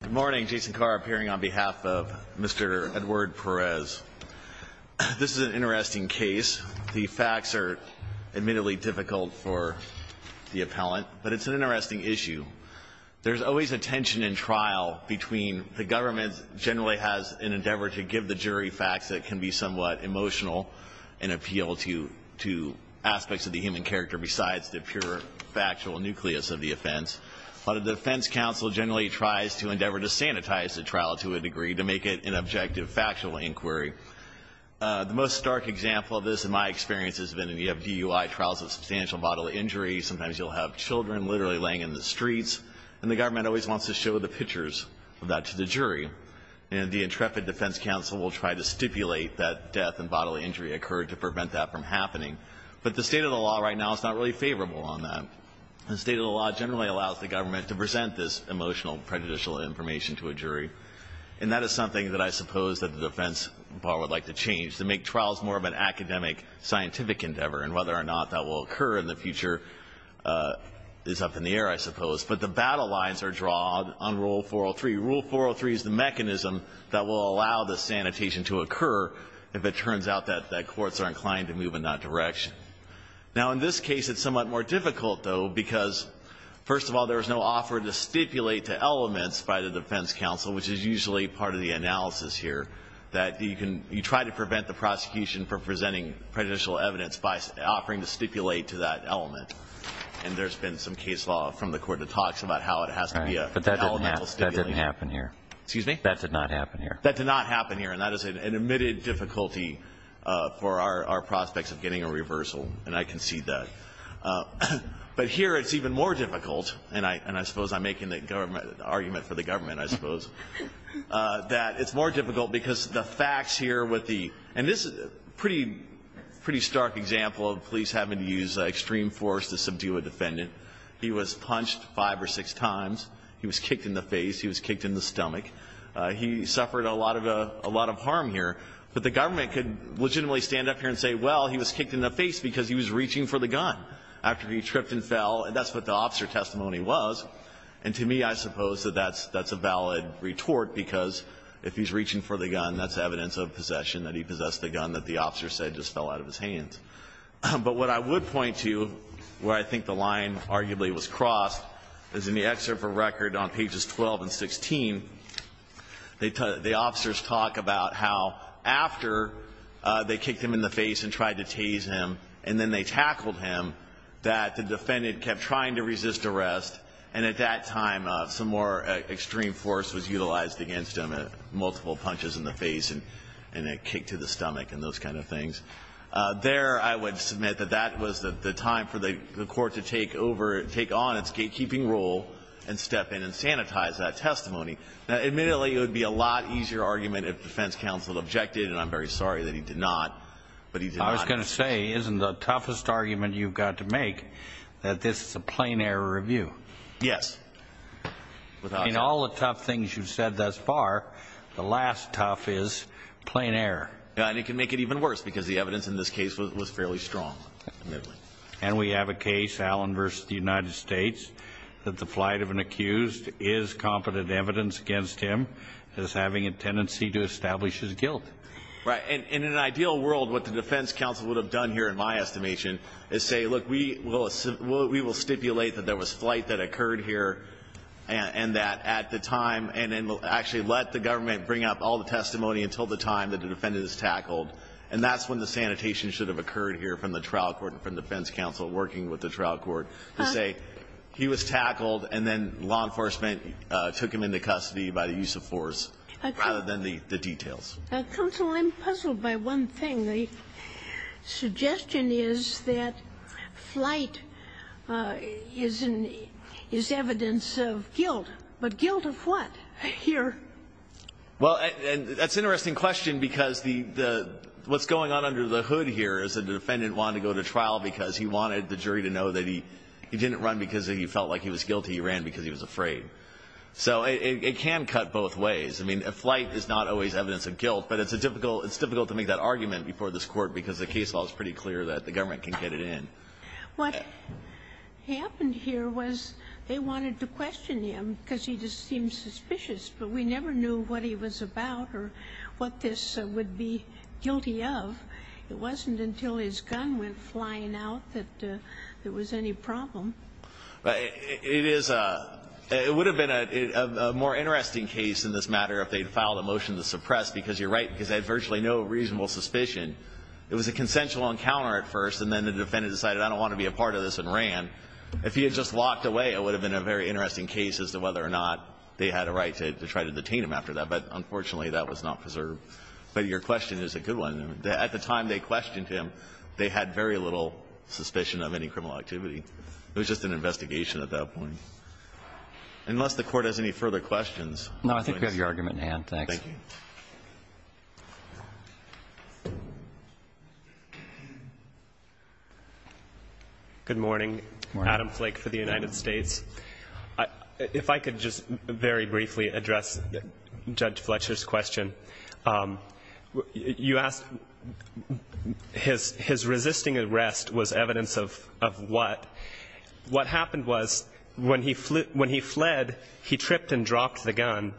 Good morning, Jason Carr appearing on behalf of Mr. Edward Perez. This is an interesting case. The facts are admittedly difficult for the appellant, but it's an interesting issue. There's always a tension in trial between the government generally has an endeavor to give the jury facts that can be somewhat emotional and appeal to aspects of the human character besides the pure factual nucleus of the offense, but a defense counsel generally tries to endeavor to sanitize the trial to a degree to make it an objective factual inquiry. The most stark example of this in my experience has been in the FDUI trials of substantial bodily injuries. Sometimes you'll have children literally laying in the streets, and the government always wants to show the pictures of that to the jury. And the intrepid defense counsel will try to stipulate that death and bodily injury occurred to prevent that from happening. But the state of the law right now is not really favorable on that. The state of the law generally allows the government to present this emotional, prejudicial information to a jury. And that is something that I suppose that the defense would like to change, to make trials more of an academic, scientific endeavor, and whether or not that will occur in the future is up in the air, I suppose. But the battle lines are drawn on Rule 403. Rule 403 is the mechanism that will allow the sanitation to occur if it turns out that courts are inclined to move in that direction. Now, in this case, it's somewhat more difficult, though, because, first of all, there is no offer to stipulate to elements by the defense counsel, which is usually part of the analysis here, that you try to prevent the prosecution from presenting prejudicial evidence by offering to stipulate to that element. And there's been some case law from the court that talks about how it has to be an elemental stipulation. But that didn't happen here. Excuse me? That did not happen here. That did not happen here, and that is an admitted difficulty for our prospects of getting a reversal, and I concede that. But here it's even more difficult, and I suppose I'm making the argument for the government, I suppose, that it's more difficult because the facts here with the – and this is a pretty stark example of police having to use extreme force to subdue a defendant. He was punched five or six times. He was kicked in the face. He was kicked in the stomach. He suffered a lot of harm here. But the government could legitimately stand up here and say, well, he was kicked in the face because he was reaching for the gun after he tripped and fell, and that's what the officer testimony was. And to me, I suppose that that's a valid retort, because if he's reaching for the gun, that's evidence of possession, that he possessed the gun that the officer said just fell out of his hands. But what I would point to where I think the line arguably was crossed is in the excerpt for record on pages 12 and 16, the officers talk about how after they kicked him in the face and tried to tase him and then they tackled him, that the defendant kept trying to resist arrest, and at that time some more extreme force was utilized against him, multiple punches in the face and a kick to the stomach and those kind of things. There, I would submit that that was the time for the court to take over, and step in and sanitize that testimony. Now, admittedly, it would be a lot easier argument if defense counsel objected, and I'm very sorry that he did not, but he did not. I was going to say, isn't the toughest argument you've got to make that this is a plain error review? Yes. In all the tough things you've said thus far, the last tough is plain error. And it can make it even worse, because the evidence in this case was fairly strong, admittedly. And we have a case, Allen v. The United States, that the flight of an accused is competent evidence against him that is having a tendency to establish his guilt. Right. And in an ideal world, what the defense counsel would have done here, in my estimation, is say, look, we will stipulate that there was flight that occurred here and that at the time, and then actually let the government bring up all the testimony until the time that the defendant is tackled, and that's when the sanitation should have occurred here from the trial court and from the defense counsel working with the trial court, to say he was tackled and then law enforcement took him into custody by the use of force, rather than the details. Counsel, I'm puzzled by one thing. The suggestion is that flight is evidence of guilt, but guilt of what here? Well, and that's an interesting question, because what's going on under the hood here is that the defendant wanted to go to trial because he wanted the jury to know that he didn't run because he felt like he was guilty. He ran because he was afraid. So it can cut both ways. I mean, flight is not always evidence of guilt, but it's difficult to make that argument before this Court because the case law is pretty clear that the government can get it in. What happened here was they wanted to question him because he just seemed suspicious, but we never knew what he was about or what this would be guilty of. It wasn't until his gun went flying out that there was any problem. It would have been a more interesting case in this matter if they'd filed a motion to suppress, because you're right, because they had virtually no reasonable suspicion. It was a consensual encounter at first, and then the defendant decided, I don't want to be a part of this, and ran. If he had just walked away, it would have been a very interesting case as to whether or not they had a right to try to detain him after that. But unfortunately, that was not preserved. But your question is a good one. At the time they questioned him, they had very little suspicion of any criminal activity. It was just an investigation at that point. Unless the Court has any further questions. No, I think we have your argument in hand. Thanks. Thank you. Good morning. Adam Flake for the United States. If I could just very briefly address Judge Fletcher's question. You asked his resisting arrest was evidence of what? What happened was when he fled, he tripped and dropped the gun.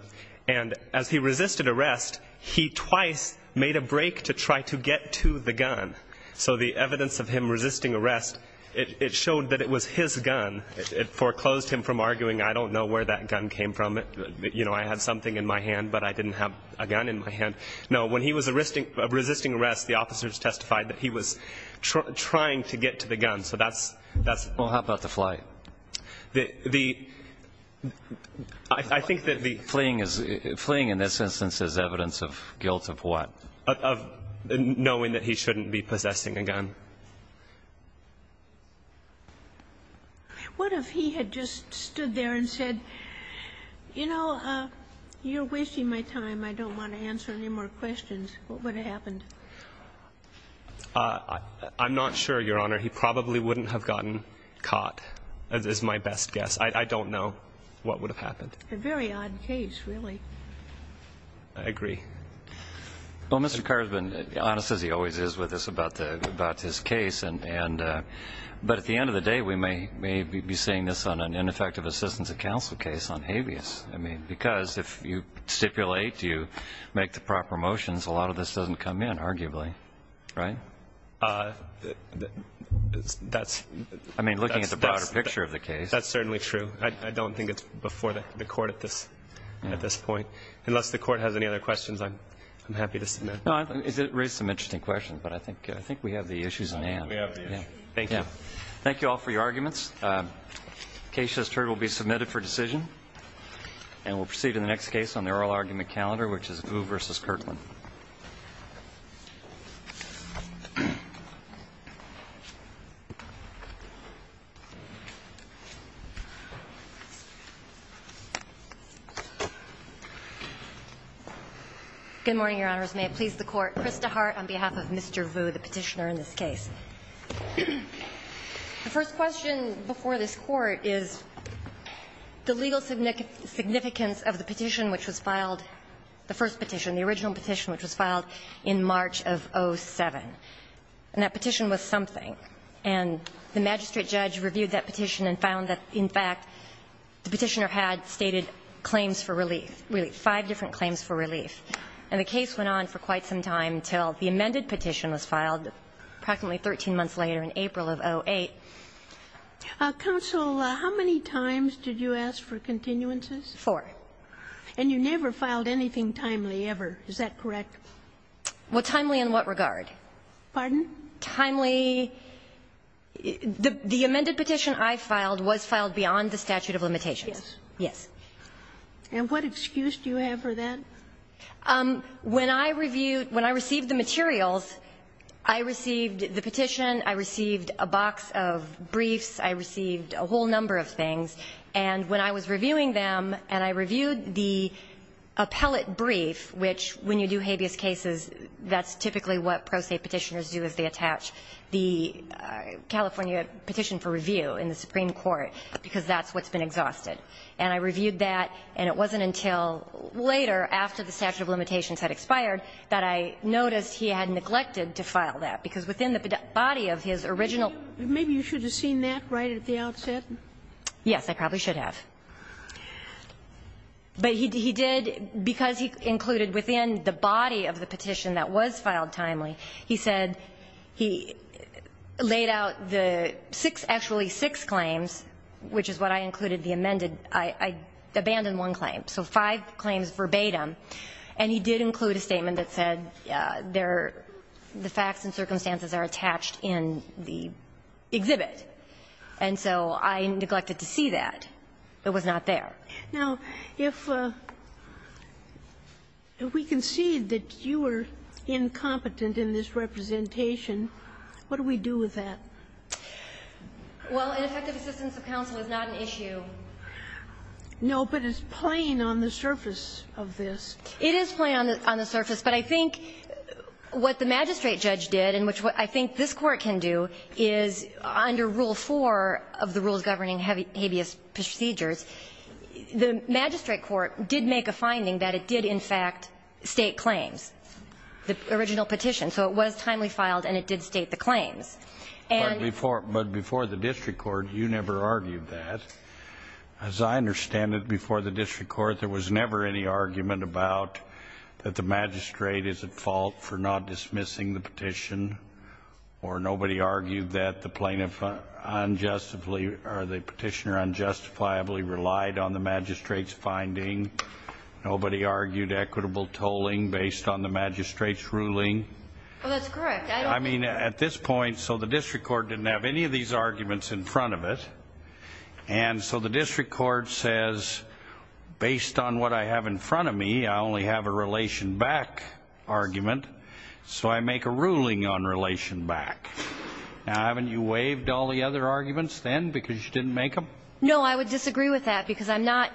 And as he resisted arrest, he twice made a break to try to get to the gun. So the evidence of him resisting arrest, it showed that it was his gun. It foreclosed him from arguing, I don't know where that gun came from. I had something in my hand, but I didn't have a gun in my hand. No, when he was resisting arrest, the officers testified that he was trying to get to the gun. Well, how about the flight? Fleeing in this instance is evidence of guilt of what? Of knowing that he shouldn't be possessing a gun. What if he had just stood there and said, you know, you're wasting my time. I don't want to answer any more questions. What would have happened? I'm not sure, Your Honor. He probably wouldn't have gotten caught, is my best guess. I don't know what would have happened. A very odd case, really. I agree. Well, Mr. Carr has been honest as he always is with us about his case. But at the end of the day, we may be seeing this on an ineffective assistance of counsel case on habeas. I mean, because if you stipulate, you make the proper motions, a lot of this doesn't come in, arguably. Right? I mean, looking at the broader picture of the case. That's certainly true. I don't think it's before the Court at this point. Unless the Court has any other questions, I'm happy to submit. No, it raises some interesting questions. But I think we have the issues on hand. We have the issues. Thank you. Thank you all for your arguments. The case, as heard, will be submitted for decision. And we'll proceed in the next case on the oral argument calendar, which is Vu v. Kirtland. Good morning, Your Honors. May it please the Court. Krista Hart on behalf of Mr. Vu, the Petitioner in this case. The first question before this Court is the legal significance of the petition which was filed, the first petition, the original petition which was filed in March of 07. And that petition was something. And the magistrate judge reviewed that petition and found that, in fact, the Petitioner had stated claims for relief, five different claims for relief. And the case went on for quite some time until the amended petition was filed, practically 13 months later in April of 08. Counsel, how many times did you ask for continuances? Four. And you never filed anything timely ever. Is that correct? Well, timely in what regard? Pardon? Timely. The amended petition I filed was filed beyond the statute of limitations. Yes. Yes. And what excuse do you have for that? When I reviewed the materials, I received the petition, I received a box of briefs, I received a whole number of things. And when I was reviewing them, and I reviewed the appellate brief, which when you do habeas cases, that's typically what pro se Petitioners do is they attach the California petition for review in the Supreme Court, because that's what's been exhausted. And I reviewed that, and it wasn't until later, after the statute of limitations had expired, that I noticed he had neglected to file that, because within the body of his original. Maybe you should have seen that right at the outset. Yes. I probably should have. But he did, because he included within the body of the petition that was filed timely, he said he laid out the six, actually six claims, which is what I included, the amended, I abandoned one claim. So five claims verbatim. And he did include a statement that said the facts and circumstances are attached in the exhibit. And so I neglected to see that. It was not there. Now, if we concede that you are incompetent in this representation, what do we do with that? Well, ineffective assistance of counsel is not an issue. No, but it's plain on the surface of this. It is plain on the surface. But I think what the magistrate judge did, and which I think this Court can do, is under Rule 4 of the Rules Governing Habeas Procedures, the magistrate court did make a finding that it did, in fact, state claims, the original petition. So it was timely filed and it did state the claims. But before the district court, you never argued that. As I understand it, before the district court, there was never any argument about that the magistrate is at fault for not dismissing the petition, or nobody argued that the plaintiff unjustifiably, or the petitioner unjustifiably relied on the magistrate's finding, nobody argued equitable tolling based on the magistrate's ruling. Well, that's correct. I don't think that. I mean, at this point, so the district court didn't have any of these arguments in front of it. And so the district court says, based on what I have in front of me, I only have a relation back argument, so I make a ruling on relation back. Now, haven't you waived all the other arguments then because you didn't make them? No, I would disagree with that because I'm not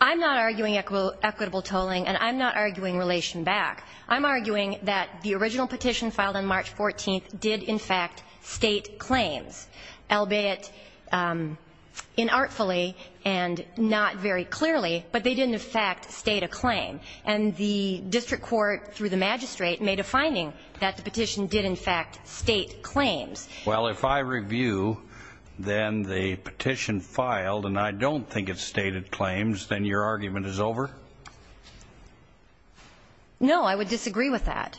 arguing equitable tolling and I'm not arguing relation back. I'm arguing that the original petition filed on March 14th did, in fact, state claims, albeit inartfully and not very clearly, but they didn't, in fact, state a claim. And the district court, through the magistrate, made a finding that the petition did, in fact, state claims. Well, if I review, then the petition filed, and I don't think it stated claims, then your argument is over? No, I would disagree with that.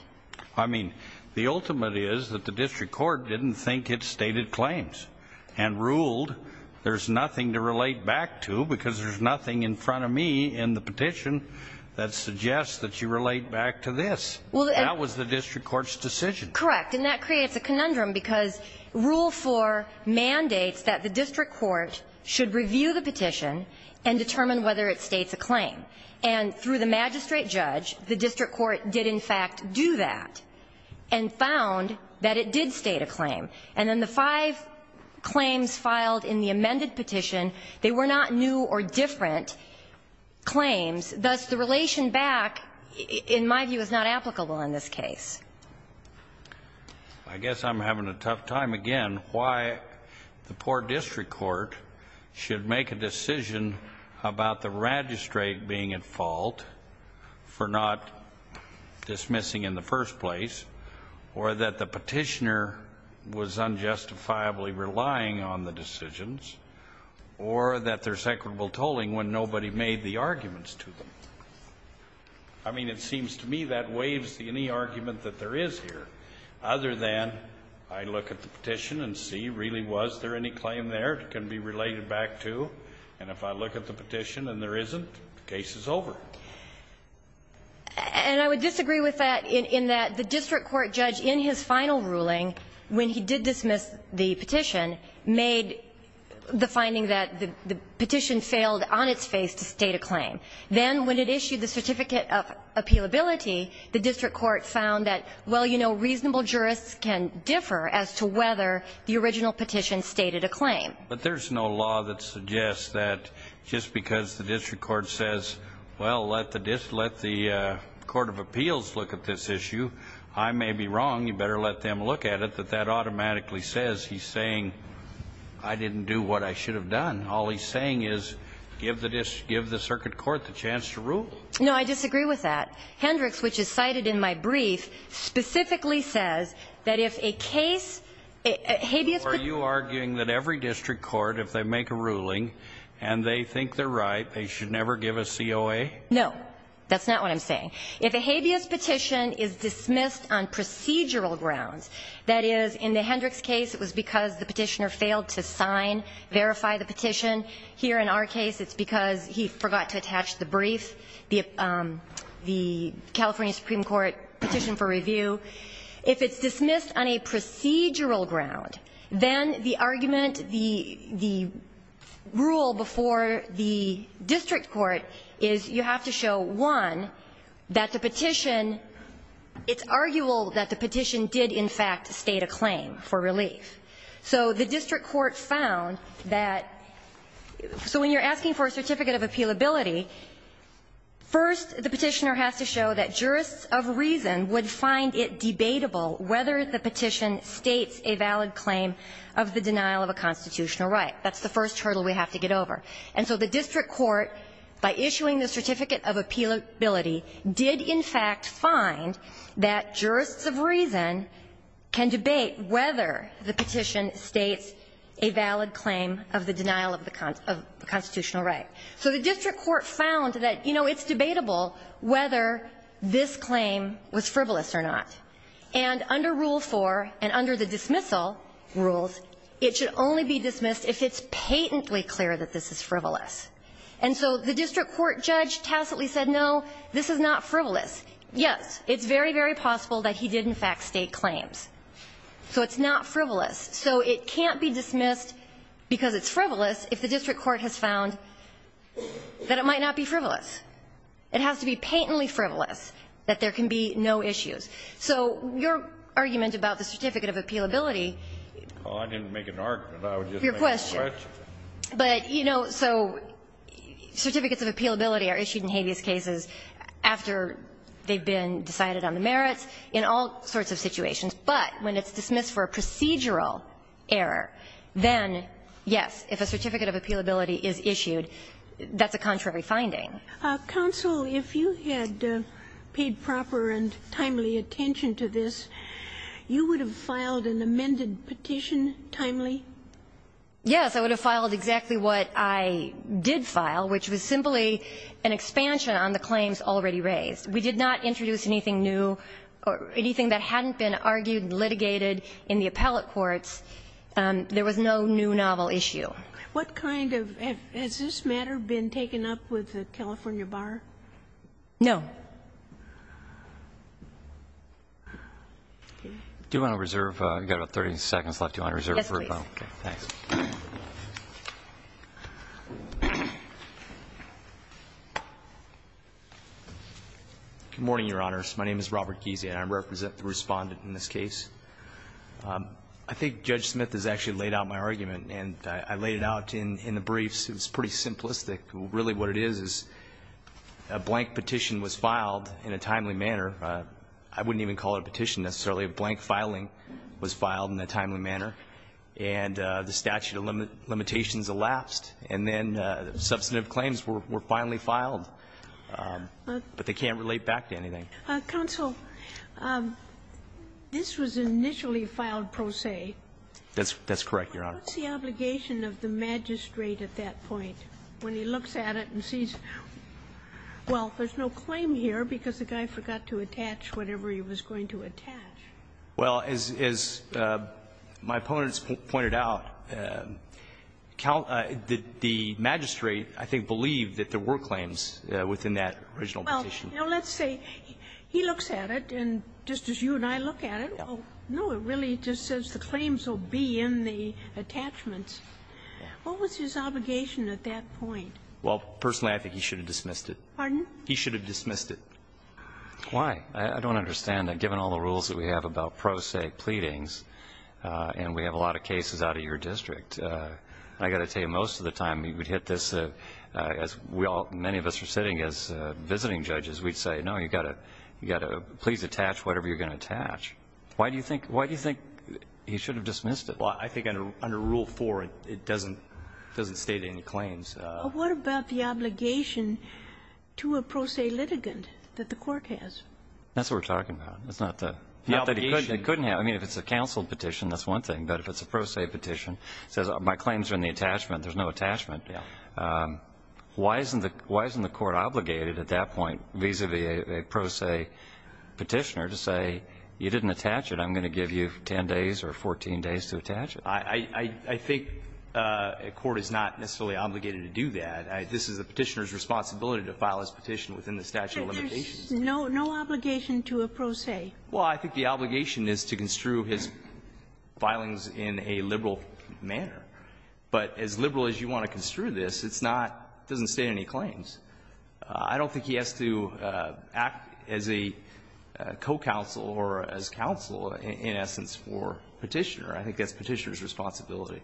I mean, the ultimate is that the district court didn't think it stated claims and ruled there's nothing to relate back to because there's nothing in front of me in the petition that suggests that you relate back to this. That was the district court's decision. Correct. And that creates a conundrum because Rule 4 mandates that the district court should review the petition and determine whether it states a claim. And through the magistrate judge, the district court did, in fact, do that and found that it did state a claim. And then the five claims filed in the amended petition, they were not new or different state claims, thus the relation back, in my view, is not applicable in this case. I guess I'm having a tough time, again, why the poor district court should make a decision about the magistrate being at fault for not dismissing in the first place, or that the petitioner was unjustifiably relying on the decisions, or that there's equitable I mean, it seems to me that waives any argument that there is here, other than I look at the petition and see, really, was there any claim there that can be related back to? And if I look at the petition and there isn't, the case is over. And I would disagree with that in that the district court judge, in his final ruling, when he did dismiss the petition, made the finding that the petition failed on its first phase to state a claim. Then, when it issued the certificate of appealability, the district court found that, well, you know, reasonable jurists can differ as to whether the original petition stated a claim. But there's no law that suggests that just because the district court says, well, let the court of appeals look at this issue, I may be wrong, you better let them look at it, that that automatically says he's saying, I didn't do what I should have done. All he's saying is give the circuit court the chance to rule. No, I disagree with that. Hendricks, which is cited in my brief, specifically says that if a case, a habeas petition Are you arguing that every district court, if they make a ruling, and they think they're right, they should never give a COA? No. That's not what I'm saying. If a habeas petition is dismissed on procedural grounds, that is, in the Hendricks case, it was because the petitioner failed to sign, verify the petition. Here in our case, it's because he forgot to attach the brief, the California Supreme Court petition for review. If it's dismissed on a procedural ground, then the argument, the rule before the district court is you have to show, one, that the petition, it's arguable that the petition did, in fact, state a claim for relief. So the district court found that so when you're asking for a certificate of appealability, first the petitioner has to show that jurists of reason would find it debatable whether the petition states a valid claim of the denial of a constitutional right. That's the first hurdle we have to get over. And so the district court, by issuing the certificate of appealability, did, in fact, find that jurists of reason can debate whether the petition states a valid claim of the denial of the constitutional right. So the district court found that, you know, it's debatable whether this claim was frivolous or not. And under Rule 4 and under the dismissal rules, it should only be dismissed if it's patently clear that this is frivolous. And so the district court judge tacitly said, no, this is not frivolous. Yes, it's very, very possible that he did, in fact, state claims. So it's not frivolous. So it can't be dismissed because it's frivolous if the district court has found that it might not be frivolous. It has to be patently frivolous that there can be no issues. So your argument about the certificate of appealability ---- Well, I didn't make an argument. I was just making a question. Your question. But, you know, so certificates of appealability are issued in habeas cases after they've been decided on the merits, in all sorts of situations. But when it's dismissed for a procedural error, then, yes, if a certificate of appealability is issued, that's a contrary finding. Counsel, if you had paid proper and timely attention to this, you would have filed an amended petition timely? Yes. I would have filed exactly what I did file, which was simply an expansion on the claims already raised. We did not introduce anything new or anything that hadn't been argued, litigated in the appellate courts. There was no new novel issue. What kind of ---- has this matter been taken up with the California Bar? No. Do you want to reserve? We've got about 30 seconds left. Do you want to reserve for a moment? Yes, please. Okay. Thanks. Good morning, Your Honors. My name is Robert Giese, and I represent the Respondent in this case. I think Judge Smith has actually laid out my argument, and I laid it out in the briefs. It was pretty simplistic. Really what it is, is a blank petition was filed in a timely manner. I wouldn't even call it a petition necessarily. A blank filing was filed in a timely manner. And the statute of limitations elapsed. And then substantive claims were finally filed. But they can't relate back to anything. Counsel, this was initially filed pro se. That's correct, Your Honor. What's the obligation of the magistrate at that point when he looks at it and sees, well, there's no claim here because the guy forgot to attach whatever he was going to attach? Well, as my opponents pointed out, the magistrate, I think, believed that there were claims within that original petition. Well, let's say he looks at it, and just as you and I look at it, no, it really just says the claims will be in the attachments. What was his obligation at that point? Well, personally, I think he should have dismissed it. Pardon? He should have dismissed it. Why? I don't understand. Given all the rules that we have about pro se pleadings, and we have a lot of cases out of your district, I've got to tell you, most of the time, we would hit this as we all, many of us are sitting as visiting judges, we'd say, no, you've got to please attach whatever you're going to attach. Why do you think he should have dismissed it? Well, I think under Rule 4, it doesn't state any claims. But what about the obligation to a pro se litigant that the court has? That's what we're talking about. It's not the obligation. It couldn't have. I mean, if it's a counsel petition, that's one thing. But if it's a pro se petition, it says my claims are in the attachment. There's no attachment. Yeah. Why isn't the court obligated at that point vis-a-vis a pro se petitioner to say you didn't attach it, I'm going to give you 10 days or 14 days to attach I think a court is not necessarily obligated to do that. This is a petitioner's responsibility to file his petition within the statute of limitations. But there's no obligation to a pro se. Well, I think the obligation is to construe his filings in a liberal manner. But as liberal as you want to construe this, it's not, it doesn't state any claims. I don't think he has to act as a co-counsel or as counsel, in essence, for petitioner. I think that's petitioner's responsibility.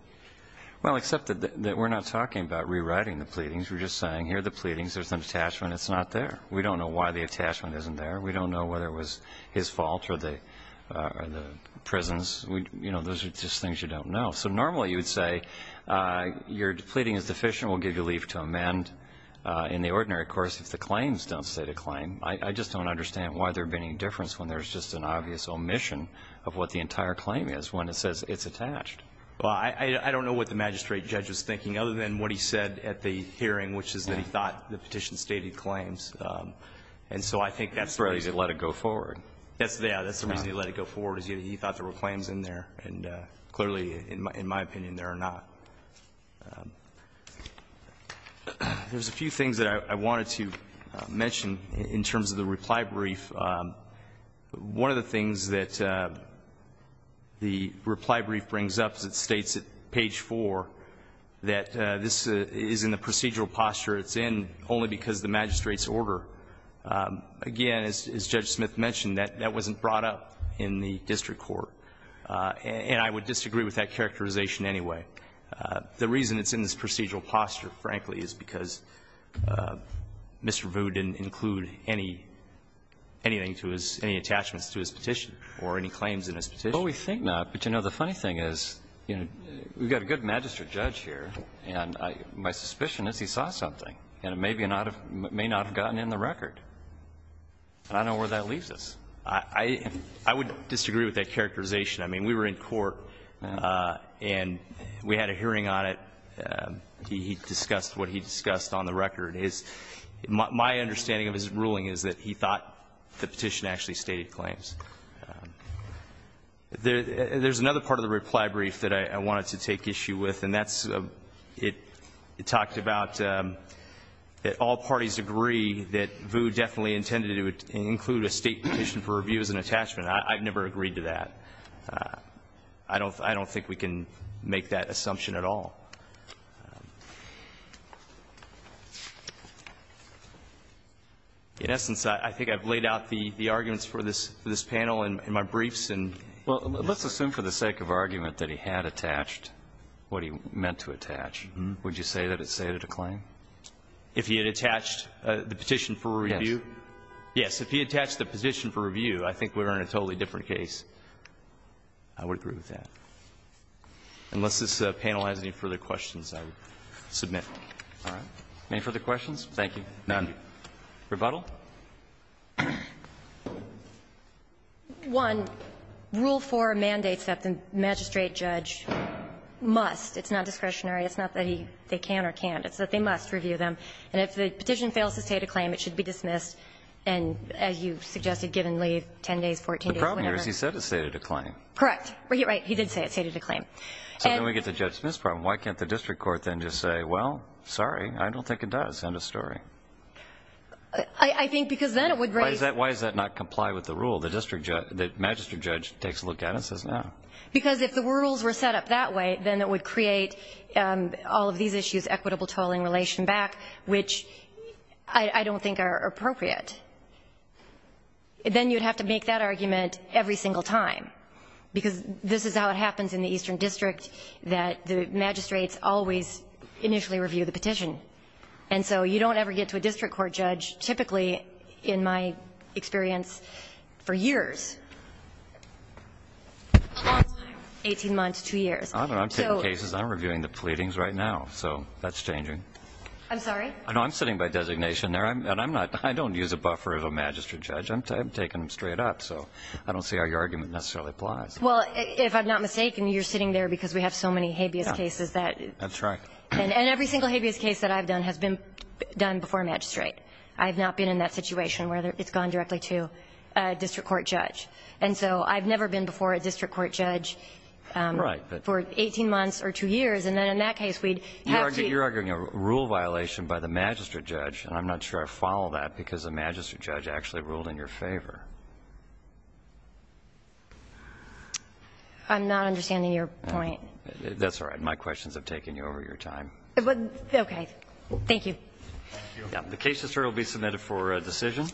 Well, except that we're not talking about rewriting the pleadings. We're just saying here are the pleadings. There's an attachment. It's not there. We don't know why the attachment isn't there. We don't know whether it was his fault or the prison's. You know, those are just things you don't know. So normally you would say your pleading is deficient. We'll give you leave to amend. In the ordinary course, if the claims don't state a claim, I just don't understand why there would be any difference when there's just an obvious omission of what the it's attached. Well, I don't know what the magistrate judge was thinking, other than what he said at the hearing, which is that he thought the petition stated claims. And so I think that's the reason. That's the reason he let it go forward. Yeah, that's the reason he let it go forward, is he thought there were claims in there. And clearly, in my opinion, there are not. There's a few things that I wanted to mention in terms of the reply brief. One of the things that the reply brief brings up is it states at page 4 that this is in the procedural posture it's in only because of the magistrate's order. Again, as Judge Smith mentioned, that wasn't brought up in the district court. And I would disagree with that characterization anyway. The reason it's in this procedural posture, frankly, is because Mr. Vu didn't include anything to his attachments to his petition or any claims in his petition. Well, we think not. But, you know, the funny thing is we've got a good magistrate judge here, and my suspicion is he saw something. And it may not have gotten in the record. And I don't know where that leaves us. I would disagree with that characterization. I mean, we were in court, and we had a hearing on it. He discussed what he discussed on the record. My understanding of his ruling is that he thought the petition actually stated claims. There's another part of the reply brief that I wanted to take issue with, and that's it talked about that all parties agree that Vu definitely intended to include a state petition for review as an attachment. I've never agreed to that. I don't think we can make that assumption at all. In essence, I think I've laid out the arguments for this panel in my briefs. Well, let's assume for the sake of argument that he had attached what he meant to attach. Would you say that it stated a claim? If he had attached the petition for review? Yes. Yes. If he attached the petition for review, I think we're in a totally different case. I would agree with that. Unless this panel has any further questions, I would submit. All right. Any further questions? Thank you. None. Rebuttal? One, Rule 4 mandates that the magistrate judge must. It's not discretionary. It's not that they can or can't. It's that they must review them. And if the petition fails to state a claim, it should be dismissed and, as you suggested, given leave, 10 days, 14 days, whatever. The problem here is he said it stated a claim. Correct. Right. He did say it stated a claim. So then we get to Judge Smith's problem. Why can't the district court then just say, well, sorry, I don't think it does. End of story. I think because then it would raise. Why does that not comply with the rule? The magistrate judge takes a look at it and says no. Because if the rules were set up that way, then it would create all of these issues, equitable tolling, relation back, which I don't think are appropriate. And then you would have to make that argument every single time, because this is how it happens in the Eastern District, that the magistrates always initially review the petition. And so you don't ever get to a district court judge, typically, in my experience, for years. Long time. 18 months, 2 years. I'm taking cases. I'm reviewing the pleadings right now. So that's changing. I'm sorry? No, I'm sitting by designation there. I don't use a buffer of a magistrate judge. I'm taking them straight up. So I don't see how your argument necessarily applies. Well, if I'm not mistaken, you're sitting there because we have so many habeas cases that. That's right. And every single habeas case that I've done has been done before a magistrate. I've not been in that situation where it's gone directly to a district court judge. And so I've never been before a district court judge for 18 months or 2 years. And then in that case, we'd have to. So you're arguing a rule violation by the magistrate judge. And I'm not sure I follow that because the magistrate judge actually ruled in your favor. I'm not understanding your point. That's all right. My questions have taken you over your time. Okay. Thank you. Thank you. The case will be submitted for decision.